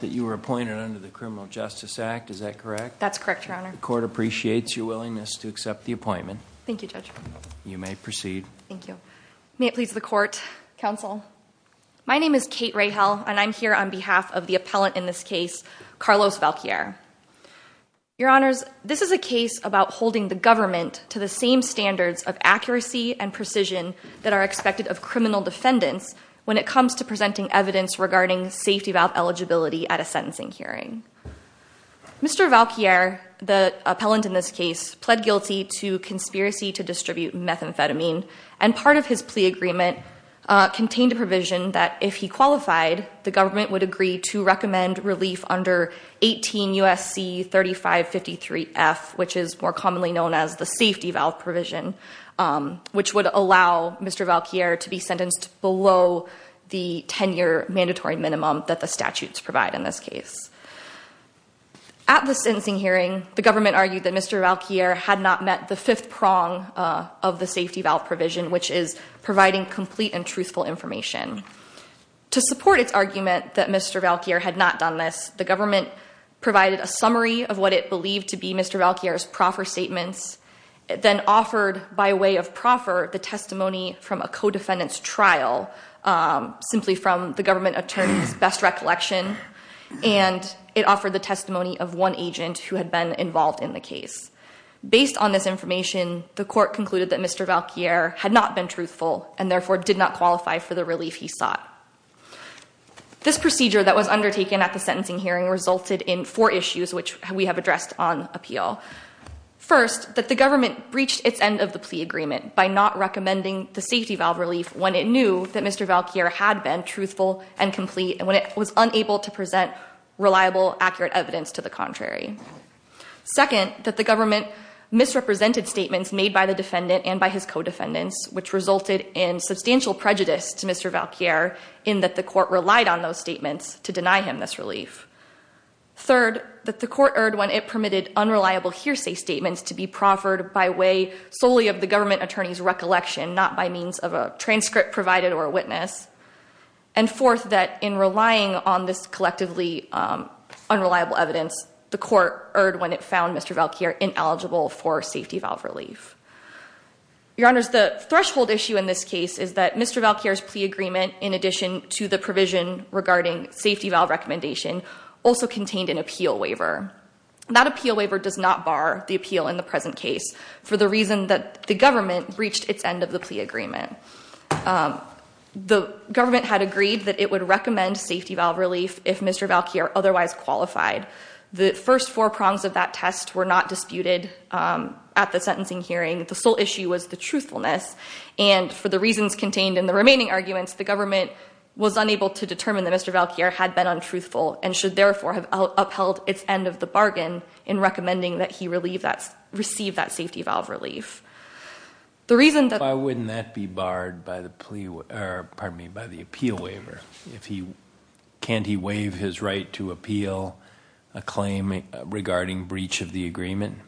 that you were appointed under the Criminal Justice Act, is that correct? That's correct, your honor. The court appreciates your willingness to accept the appointment. Thank you, judge. You may proceed. Thank you. May it please the court, counsel. My name is Kate Rahel and I'm here on behalf of the appellant in this case, Carlos Valquier. Your honors, this is a case about holding the government to the same standards of accuracy and precision that are expected of criminal defendants when it comes to presenting evidence regarding safety valve eligibility at a sentencing hearing. Mr. Valquier, the appellant in this case, pled guilty to conspiracy to distribute methamphetamine and part of his plea agreement contained a provision that if he qualified, the government would agree to recommend relief under 18 U.S.C. 3553F, which is more commonly known as the safety valve provision, which would allow Mr. Valquier to be sentenced below the 10-year mandatory minimum that the statutes provide in this case. At the sentencing hearing, the government argued that Mr. Valquier had not met the fifth prong of the safety valve provision, which is providing complete and truthful information. To support its argument that Mr. Valquier had not done this, the government provided a summary of what it believed to be Mr. Valquier's proffer statements, then offered by way of the government attorney's best recollection, and it offered the testimony of one agent who had been involved in the case. Based on this information, the court concluded that Mr. Valquier had not been truthful and therefore did not qualify for the relief he sought. This procedure that was undertaken at the sentencing hearing resulted in four issues which we have addressed on appeal. First, that the government breached its end of the plea agreement by not recommending the safety valve relief when it knew that Mr. Valquier had been truthful and complete and when it was unable to present reliable, accurate evidence to the contrary. Second, that the government misrepresented statements made by the defendant and by his co-defendants, which resulted in substantial prejudice to Mr. Valquier in that the court relied on those statements to deny him this relief. Third, that the court erred when it permitted unreliable hearsay statements to be proffered by way solely of the government attorney's recollection, not by means of a transcript provided or a witness. And fourth, that in relying on this collectively unreliable evidence, the court erred when it found Mr. Valquier ineligible for safety valve relief. Your Honors, the threshold issue in this case is that Mr. Valquier's plea agreement, in addition to the provision regarding safety valve recommendation, also contained an appeal waiver. That appeal waiver does not bar the appeal in the present case for the reason that the government breached its end of the plea agreement. The government had agreed that it would recommend safety valve relief if Mr. Valquier otherwise qualified. The first four prongs of that test were not disputed at the sentencing hearing. The sole issue was the truthfulness, and for the reasons contained in the remaining arguments, the government was unable to determine that Mr. Valquier had been untruthful and should therefore have upheld its end of the bargain in recommending that he receive that safety valve relief. The reason that... Why wouldn't that be barred by the appeal waiver? Can't he waive his right to appeal a claim regarding breach of the agreement?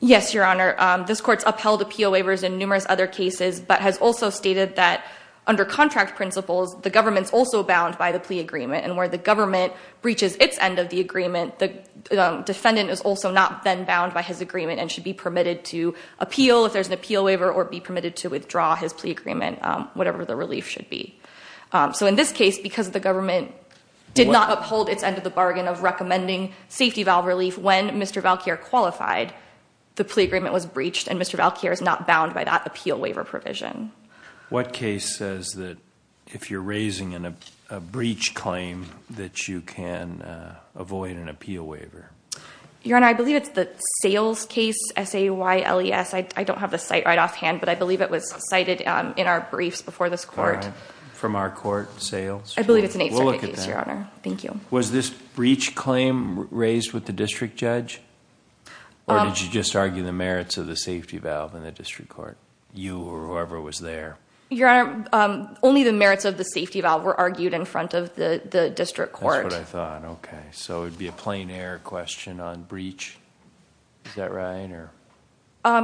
Yes, Your Honor. This court's upheld appeal waivers in numerous other cases, but has also stated that under contract principles, the government's also bound by the plea agreement. And where the government breaches its end of the agreement, the defendant is also not then bound by his agreement and should be permitted to appeal if there's an appeal waiver or be permitted to withdraw his plea agreement, whatever the relief should be. So in this case, because the government did not uphold its end of the bargain of recommending safety valve relief when Mr. Valquier qualified, the plea agreement was breached and Mr. Valquier is not bound by that appeal waiver provision. What case says that if you're raising a breach claim, that you can avoid an appeal waiver? Your Honor, I believe it's the sales case, S-A-Y-L-E-S. I don't have the site right off hand, but I believe it was cited in our briefs before this court. From our court, sales? I believe it's an eighth circuit case, Your Honor. Thank you. Was this breach claim raised with the district judge, or did you just argue the merits of the safety valve in the district court? You or whoever was there. Your Honor, only the merits of the safety valve were argued in front of the district court. That's what I thought. Okay. So it would be a plain air question on breach. Is that right?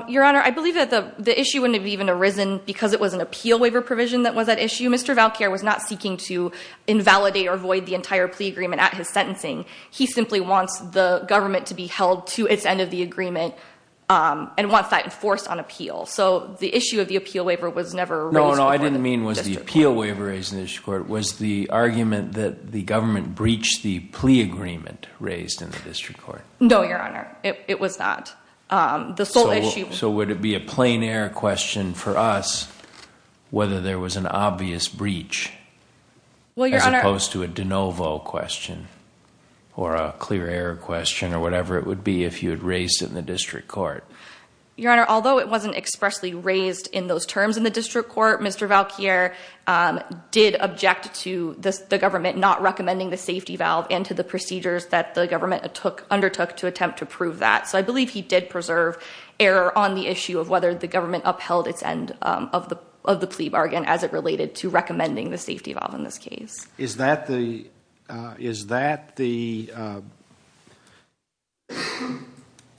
Your Honor, I believe that the issue wouldn't have even arisen because it was an appeal waiver provision that was at issue. Mr. Valquier was not seeking to invalidate or void the entire plea agreement at his sentencing. He simply wants the government to be held to its end of the agreement and wants that enforced on appeal. So the issue of the appeal waiver was never raised before the district court. No, no. I didn't mean was the appeal waiver raised in the district court. Was the argument that the government breached the plea agreement raised in the district court? No, Your Honor. It was not. The sole issue... So would it be a plain air question for us whether there was an obvious breach as opposed to a de novo question or a clear air question or whatever it would be if you had raised it in the district court? Your Honor, although it wasn't expressly raised in those terms in the district court, Mr. Valquier did object to the government not recommending the safety valve and to the procedures that the government undertook to attempt to prove that. So I believe he did preserve error on the issue of whether the government upheld its end of the plea bargain as it related to recommending the safety valve in this case. Is that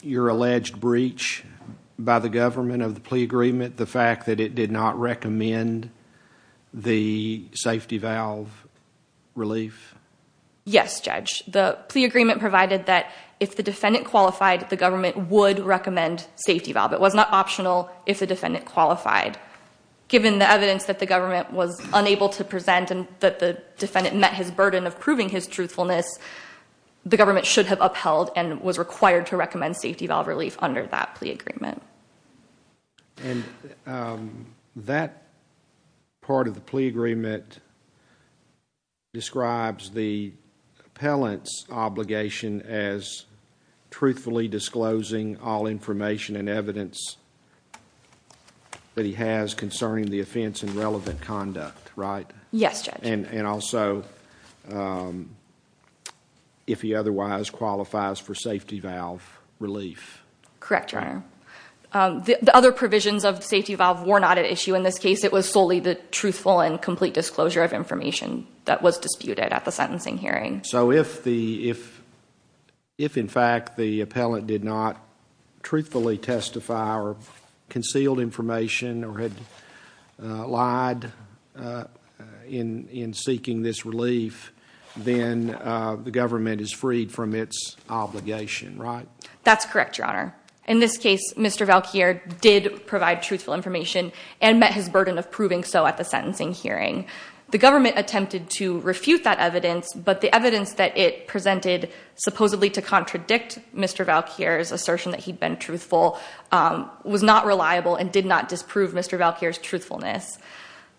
your alleged breach by the government of the plea agreement, the fact that it did not recommend the safety valve relief? Yes, Judge. The plea agreement provided that if the defendant qualified, the government would recommend safety valve. It was not optional if the defendant qualified. Given the evidence that the government was unable to present and that the defendant met his burden of proving his truthfulness, the government should have upheld and was required to recommend safety valve relief under that plea agreement. That part of the plea agreement describes the appellant's obligation as truthfully disclosing all information and evidence that he has concerning the offense and relevant conduct, right? Yes, Judge. And also, if he otherwise qualifies for safety valve relief. Correct, Your Honor. The other provisions of safety valve were not at issue in this case. It was solely the truthful and complete disclosure of information that was disputed at the sentencing hearing. So if, in fact, the appellant did not truthfully testify or concealed information or had lied in seeking this relief, then the government is freed from its obligation, right? That's correct, Your Honor. In this case, Mr. Valquier did provide truthful information and met his burden of proving so at the sentencing hearing. The government attempted to refute that evidence, but the evidence that it presented supposedly to contradict Mr. Valquier's assertion that he'd been truthful was not reliable and did not disprove Mr. Valquier's truthfulness.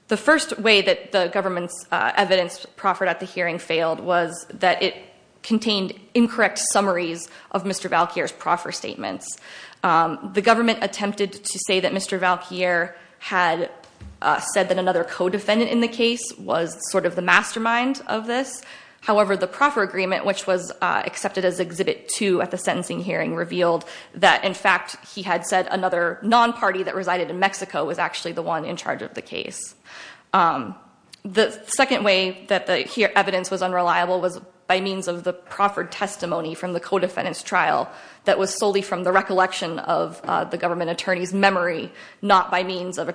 The first way that the government's evidence proffered at the hearing failed was that it contained incorrect summaries of Mr. Valquier's proffer statements. The government attempted to say that Mr. Valquier had said that another co-defendant in the case was sort of the mastermind of this. However, the proffer agreement, which was accepted as Exhibit 2 at the sentencing hearing, revealed that, in fact, he had said another non-party that resided in Mexico was actually the one in charge of the case. The second way that the evidence was unreliable was by means of the proffered testimony from the co-defendant's trial that was solely from the recollection of the government attorney's witness or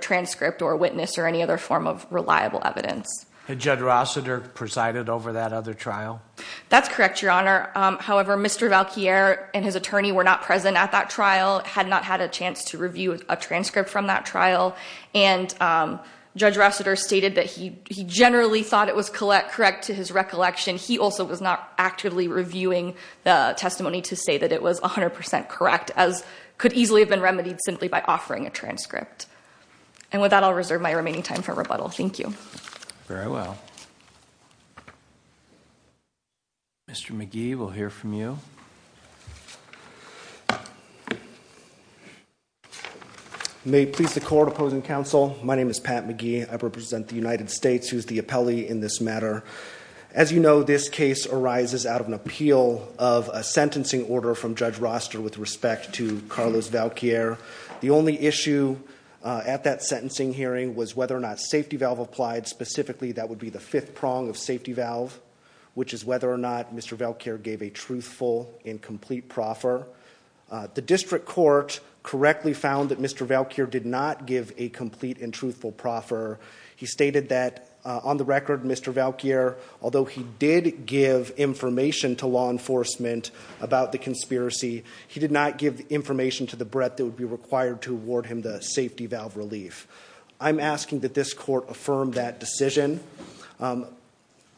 any other form of reliable evidence. Had Judge Rossiter presided over that other trial? That's correct, Your Honor. However, Mr. Valquier and his attorney were not present at that trial, had not had a chance to review a transcript from that trial, and Judge Rossiter stated that he generally thought it was correct to his recollection. He also was not actively reviewing the testimony to say that it was 100% correct, as could easily have been remedied simply by offering a transcript. And with that, I'll reserve my remaining time for rebuttal. Thank you. Very well. Mr. McGee, we'll hear from you. May it please the Court, opposing counsel, my name is Pat McGee. I represent the United States, who is the appellee in this matter. As you know, this case arises out of an appeal of a sentencing order from Judge Rossiter with respect to Carlos Valquier. The only issue at that sentencing hearing was whether or not safety valve applied. Specifically, that would be the fifth prong of safety valve, which is whether or not Mr. Valquier gave a truthful and complete proffer. The district court correctly found that Mr. Valquier did not give a complete and truthful proffer. He stated that, on the record, Mr. Valquier, although he did give information to law enforcement about the conspiracy, he did not give information to the breadth that would be required to award him the safety valve relief. I'm asking that this court affirm that decision.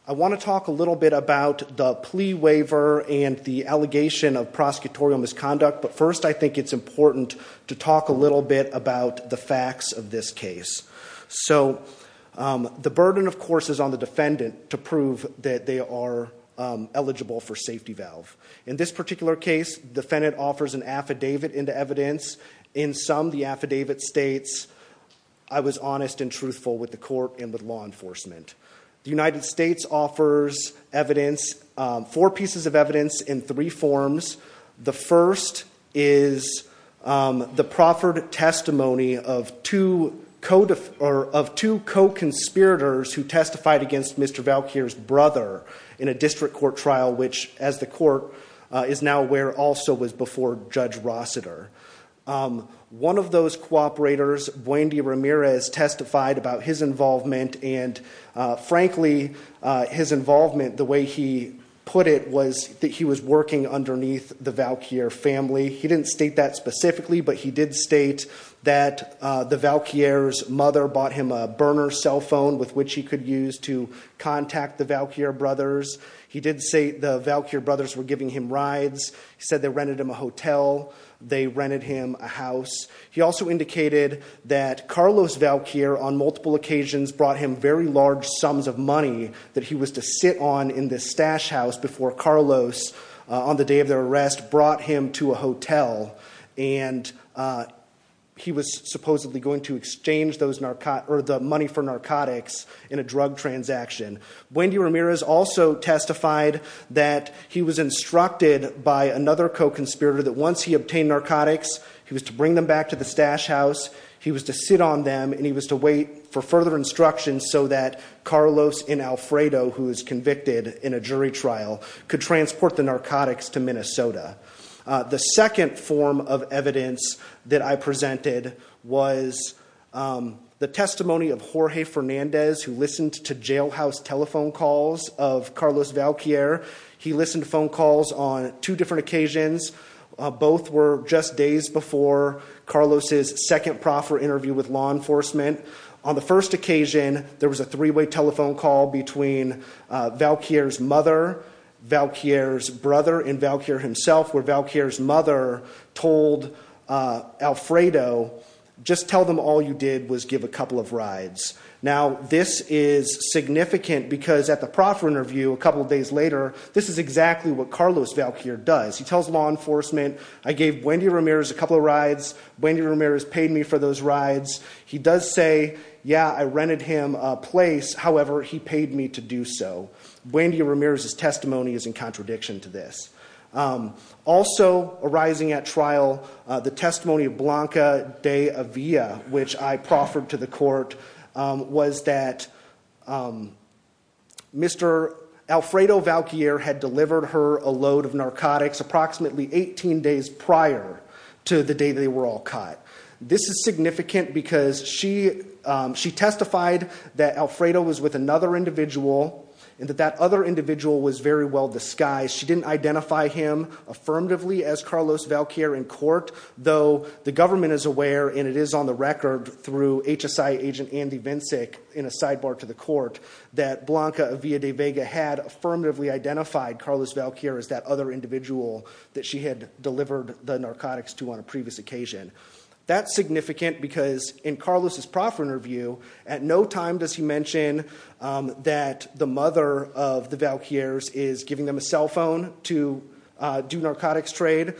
I want to talk a little bit about the plea waiver and the allegation of prosecutorial misconduct, but first I think it's important to talk a little bit about the facts of this case. So, the burden, of course, is on the defendant to prove that they are eligible for safety valve. In this particular case, the defendant offers an affidavit into evidence. In some, the affidavit states, I was honest and truthful with the court and with law enforcement. The United States offers evidence, four pieces of evidence in three forms. The first is the proffered testimony of two co-conspirators who testified against Mr. Valquier's brother in a district court trial, which, as the court is now aware, also was before Judge Rossiter. One of those co-operators, Buende Ramirez, testified about his involvement and, frankly, his involvement, the way he put it, was that he was working underneath the Valquier family. He didn't state that specifically, but he did state that the Valquier's mother bought him a burner cell phone with which he could use to contact the Valquier brothers. He did say the Valquier brothers were giving him rides. He said they rented him a hotel. They rented him a house. He also indicated that Carlos Valquier, on multiple occasions, brought him very large sums of money that he was to sit on in this stash house before Carlos, on the day of their arrest, brought him to a hotel. He was supposedly going to exchange the money for narcotics in a drug transaction. Buende Ramirez also testified that he was instructed by another co-conspirator that once he obtained narcotics, he was to bring them back to the stash house. He was to sit on them, and he was to wait for further instructions so that Carlos and Alfredo, who was convicted in a jury trial, could transport the narcotics to Minnesota. The second form of evidence that I presented was the testimony of Jorge Fernandez, who listened to jailhouse telephone calls of Carlos Valquier. He listened to phone calls on two different occasions. Both were just days before Carlos's second proffer interview with law enforcement. On the first occasion, there was a three-way telephone call between Valquier's mother, Valquier's brother, and Valquier himself, where Valquier's mother told Alfredo, just tell them all you did was give a couple of rides. Now, this is significant because at the proffer interview a couple of days later, this is exactly what Carlos Valquier does. He tells law enforcement, I gave Buende Ramirez a couple of rides. Buende Ramirez paid me for those rides. He does say, yeah, I rented him a place. However, he paid me to do so. Buende Ramirez's testimony is in contradiction to this. Also arising at trial, the testimony of Blanca de Avila, which I proffered to the court, was that Mr. Alfredo Valquier had delivered her a load of narcotics approximately 18 days prior to the day they were all caught. This is significant because she testified that Alfredo was with another individual and that that other individual was very well disguised. She didn't identify him affirmatively as Carlos Valquier in court, though the government is aware, and it is on the record through HSI agent Andy Vincic, in a sidebar to the court, that Blanca de Avila had affirmatively identified Carlos Valquier as that other individual that she had delivered the narcotics to on a previous occasion. That's significant because in Carlos's proffer interview, at no time does he mention that the mother of the Valquiers is giving them a cell phone to do narcotics trade.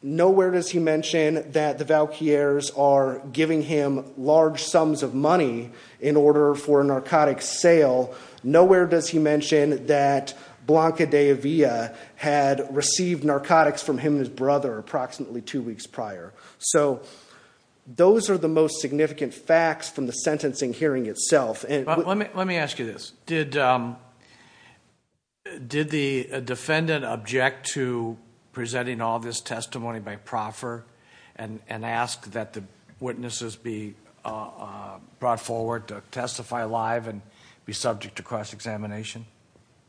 Nowhere does he mention that the Valquiers are giving him large sums of money in order for a narcotics sale. Nowhere does he mention that Blanca de Avila had received narcotics from him and his brother approximately two weeks prior. So those are the most significant facts from the sentencing hearing itself. Let me ask you this. Did the defendant object to presenting all this testimony by proffer and ask that the witnesses be brought forward to testify live and be subject to cross-examination?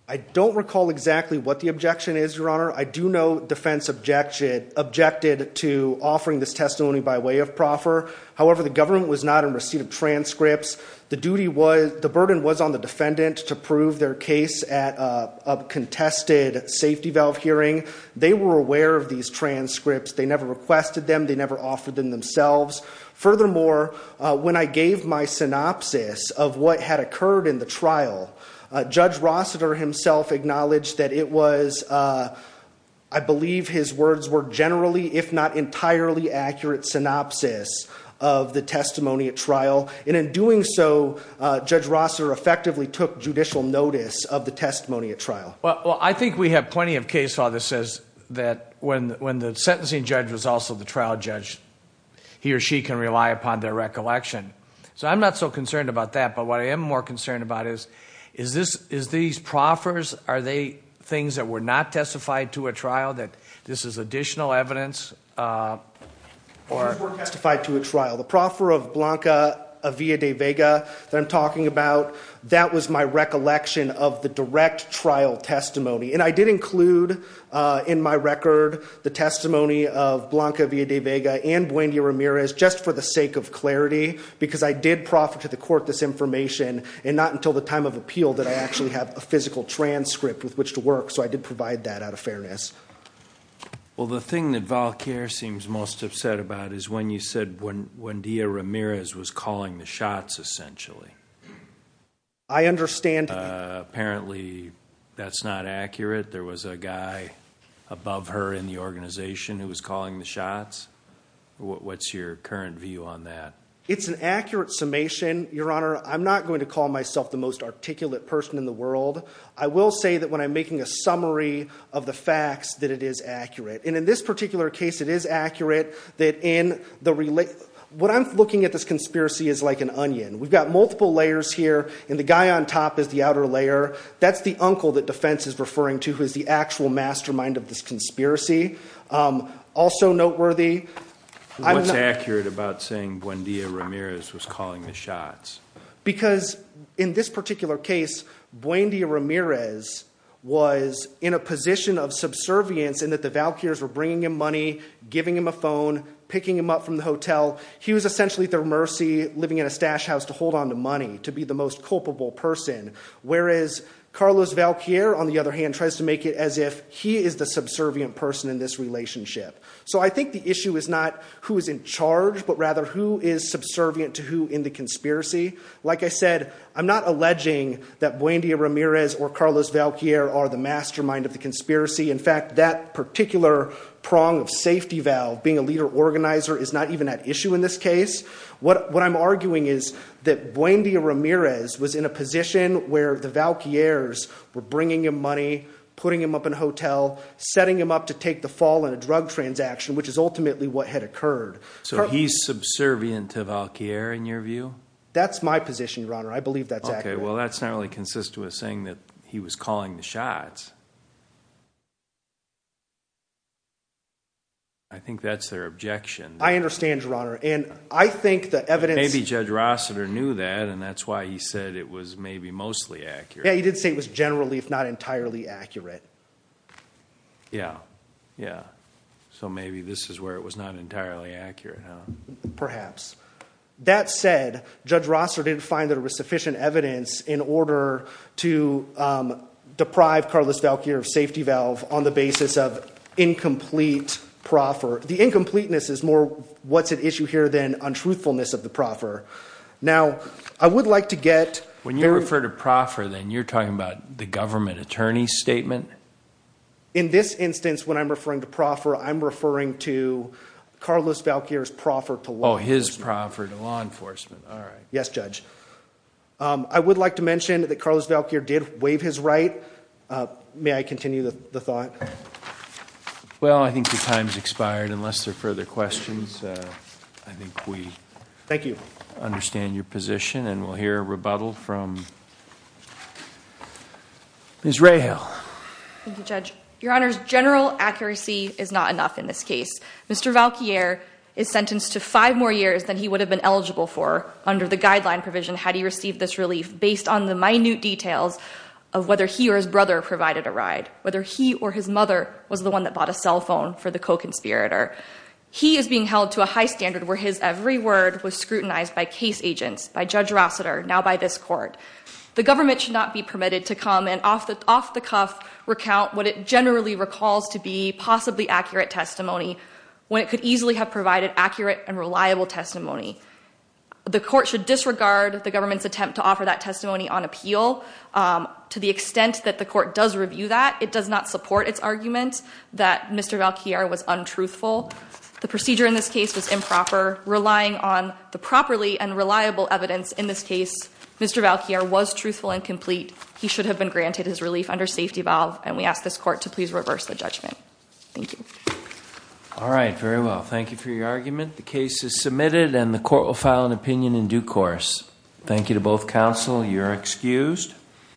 I don't recall exactly what the objection is, Your Honor. I do know defense objected to offering this testimony by way of proffer. However, the government was not in receipt of transcripts. The burden was on the defendant to prove their case at a contested safety valve hearing. They were aware of these transcripts. They never requested them. They never offered them themselves. Furthermore, when I gave my synopsis of what had occurred in the trial, Judge Rossiter himself acknowledged that it was, I believe his words were, generally if not entirely accurate synopsis of the testimony at trial. And in doing so, Judge Rossiter effectively took judicial notice of the testimony at trial. Well, I think we have plenty of case law that says that when the sentencing judge was also the trial judge, he or she can rely upon their recollection. So I'm not so concerned about that. But what I am more concerned about is, is these proffers, are they things that were not testified to at trial that this is additional evidence? These were testified to at trial. The proffer of Blanca Avila de Vega that I'm talking about, that was my recollection of the direct trial testimony. And I did include in my record the testimony of Blanca Avila de Vega and Buendia-Ramirez just for the sake of clarity because I did proffer to the court this information and not until the time of appeal that I actually have a physical transcript with which to work. So I did provide that out of fairness. Well, the thing that Valquier seems most upset about is when you said Buendia-Ramirez was calling the shots essentially. I understand that. Apparently that's not accurate. There was a guy above her in the organization who was calling the shots. What's your current view on that? It's an accurate summation, Your Honor. I'm not going to call myself the most articulate person in the world. I will say that when I'm making a summary of the facts that it is accurate. And in this particular case it is accurate that in the relation What I'm looking at this conspiracy is like an onion. We've got multiple layers here, and the guy on top is the outer layer. That's the uncle that defense is referring to who is the actual mastermind of this conspiracy. Also noteworthy. What's accurate about saying Buendia-Ramirez was calling the shots? Because in this particular case, Buendia-Ramirez was in a position of subservience in that the Valquiers were bringing him money, giving him a phone, picking him up from the hotel. He was essentially at their mercy, living in a stash house to hold onto money, to be the most culpable person. Whereas Carlos Valquier, on the other hand, tries to make it as if he is the subservient person in this relationship. So I think the issue is not who is in charge, but rather who is subservient to who in the conspiracy. Like I said, I'm not alleging that Buendia-Ramirez or Carlos Valquier are the mastermind of the conspiracy. In fact, that particular prong of safety valve, being a leader organizer, is not even at issue in this case. What I'm arguing is that Buendia-Ramirez was in a position where the Valquiers were bringing him money, putting him up in a hotel, setting him up to take the fall in a drug transaction, which is ultimately what had occurred. So he's subservient to Valquier in your view? That's my position, Your Honor. I believe that's accurate. Okay, well that's not really consistent with saying that he was calling the shots. I think that's their objection. I understand, Your Honor. And I think the evidence… Maybe Judge Rossiter knew that, and that's why he said it was maybe mostly accurate. Yeah, he did say it was generally if not entirely accurate. Yeah, yeah. So maybe this is where it was not entirely accurate, huh? Perhaps. That said, Judge Rossiter didn't find that there was sufficient evidence in order to deprive Carlos Valquier of safety valve on the basis of incomplete proffer. The incompleteness is more what's at issue here than untruthfulness of the proffer. Now, I would like to get… When you refer to proffer, then, you're talking about the government attorney's statement? In this instance, when I'm referring to proffer, I'm referring to Carlos Valquier's proffer to law enforcement. Oh, his proffer to law enforcement. All right. Yes, Judge. I would like to mention that Carlos Valquier did waive his right. May I continue the thought? Well, I think your time's expired unless there are further questions. I think we… Thank you. …understand your position, and we'll hear rebuttal from Ms. Rahal. Thank you, Judge. Your Honor, general accuracy is not enough in this case. Mr. Valquier is sentenced to five more years than he would have been eligible for under the guideline provision had he received this relief based on the minute details of whether he or his brother provided a ride, whether he or his mother was the one that bought a cell phone for the co-conspirator. He is being held to a high standard where his every word was scrutinized by case agents, by Judge Rossiter, now by this Court. The government should not be permitted to come and off the cuff recount what it generally recalls to be possibly accurate testimony when it could easily have provided accurate and reliable testimony. The Court should disregard the government's attempt to offer that testimony on appeal. To the extent that the Court does review that, it does not support its argument that Mr. Valquier was untruthful. The procedure in this case was improper. Relying on the properly and reliable evidence in this case, Mr. Valquier was truthful and complete. He should have been granted his relief under safety valve, and we ask this Court to please reverse the judgment. Thank you. All right. Very well. Thank you for your argument. The case is submitted, and the Court will file an opinion in due course. Thank you to both counsel. You are excused.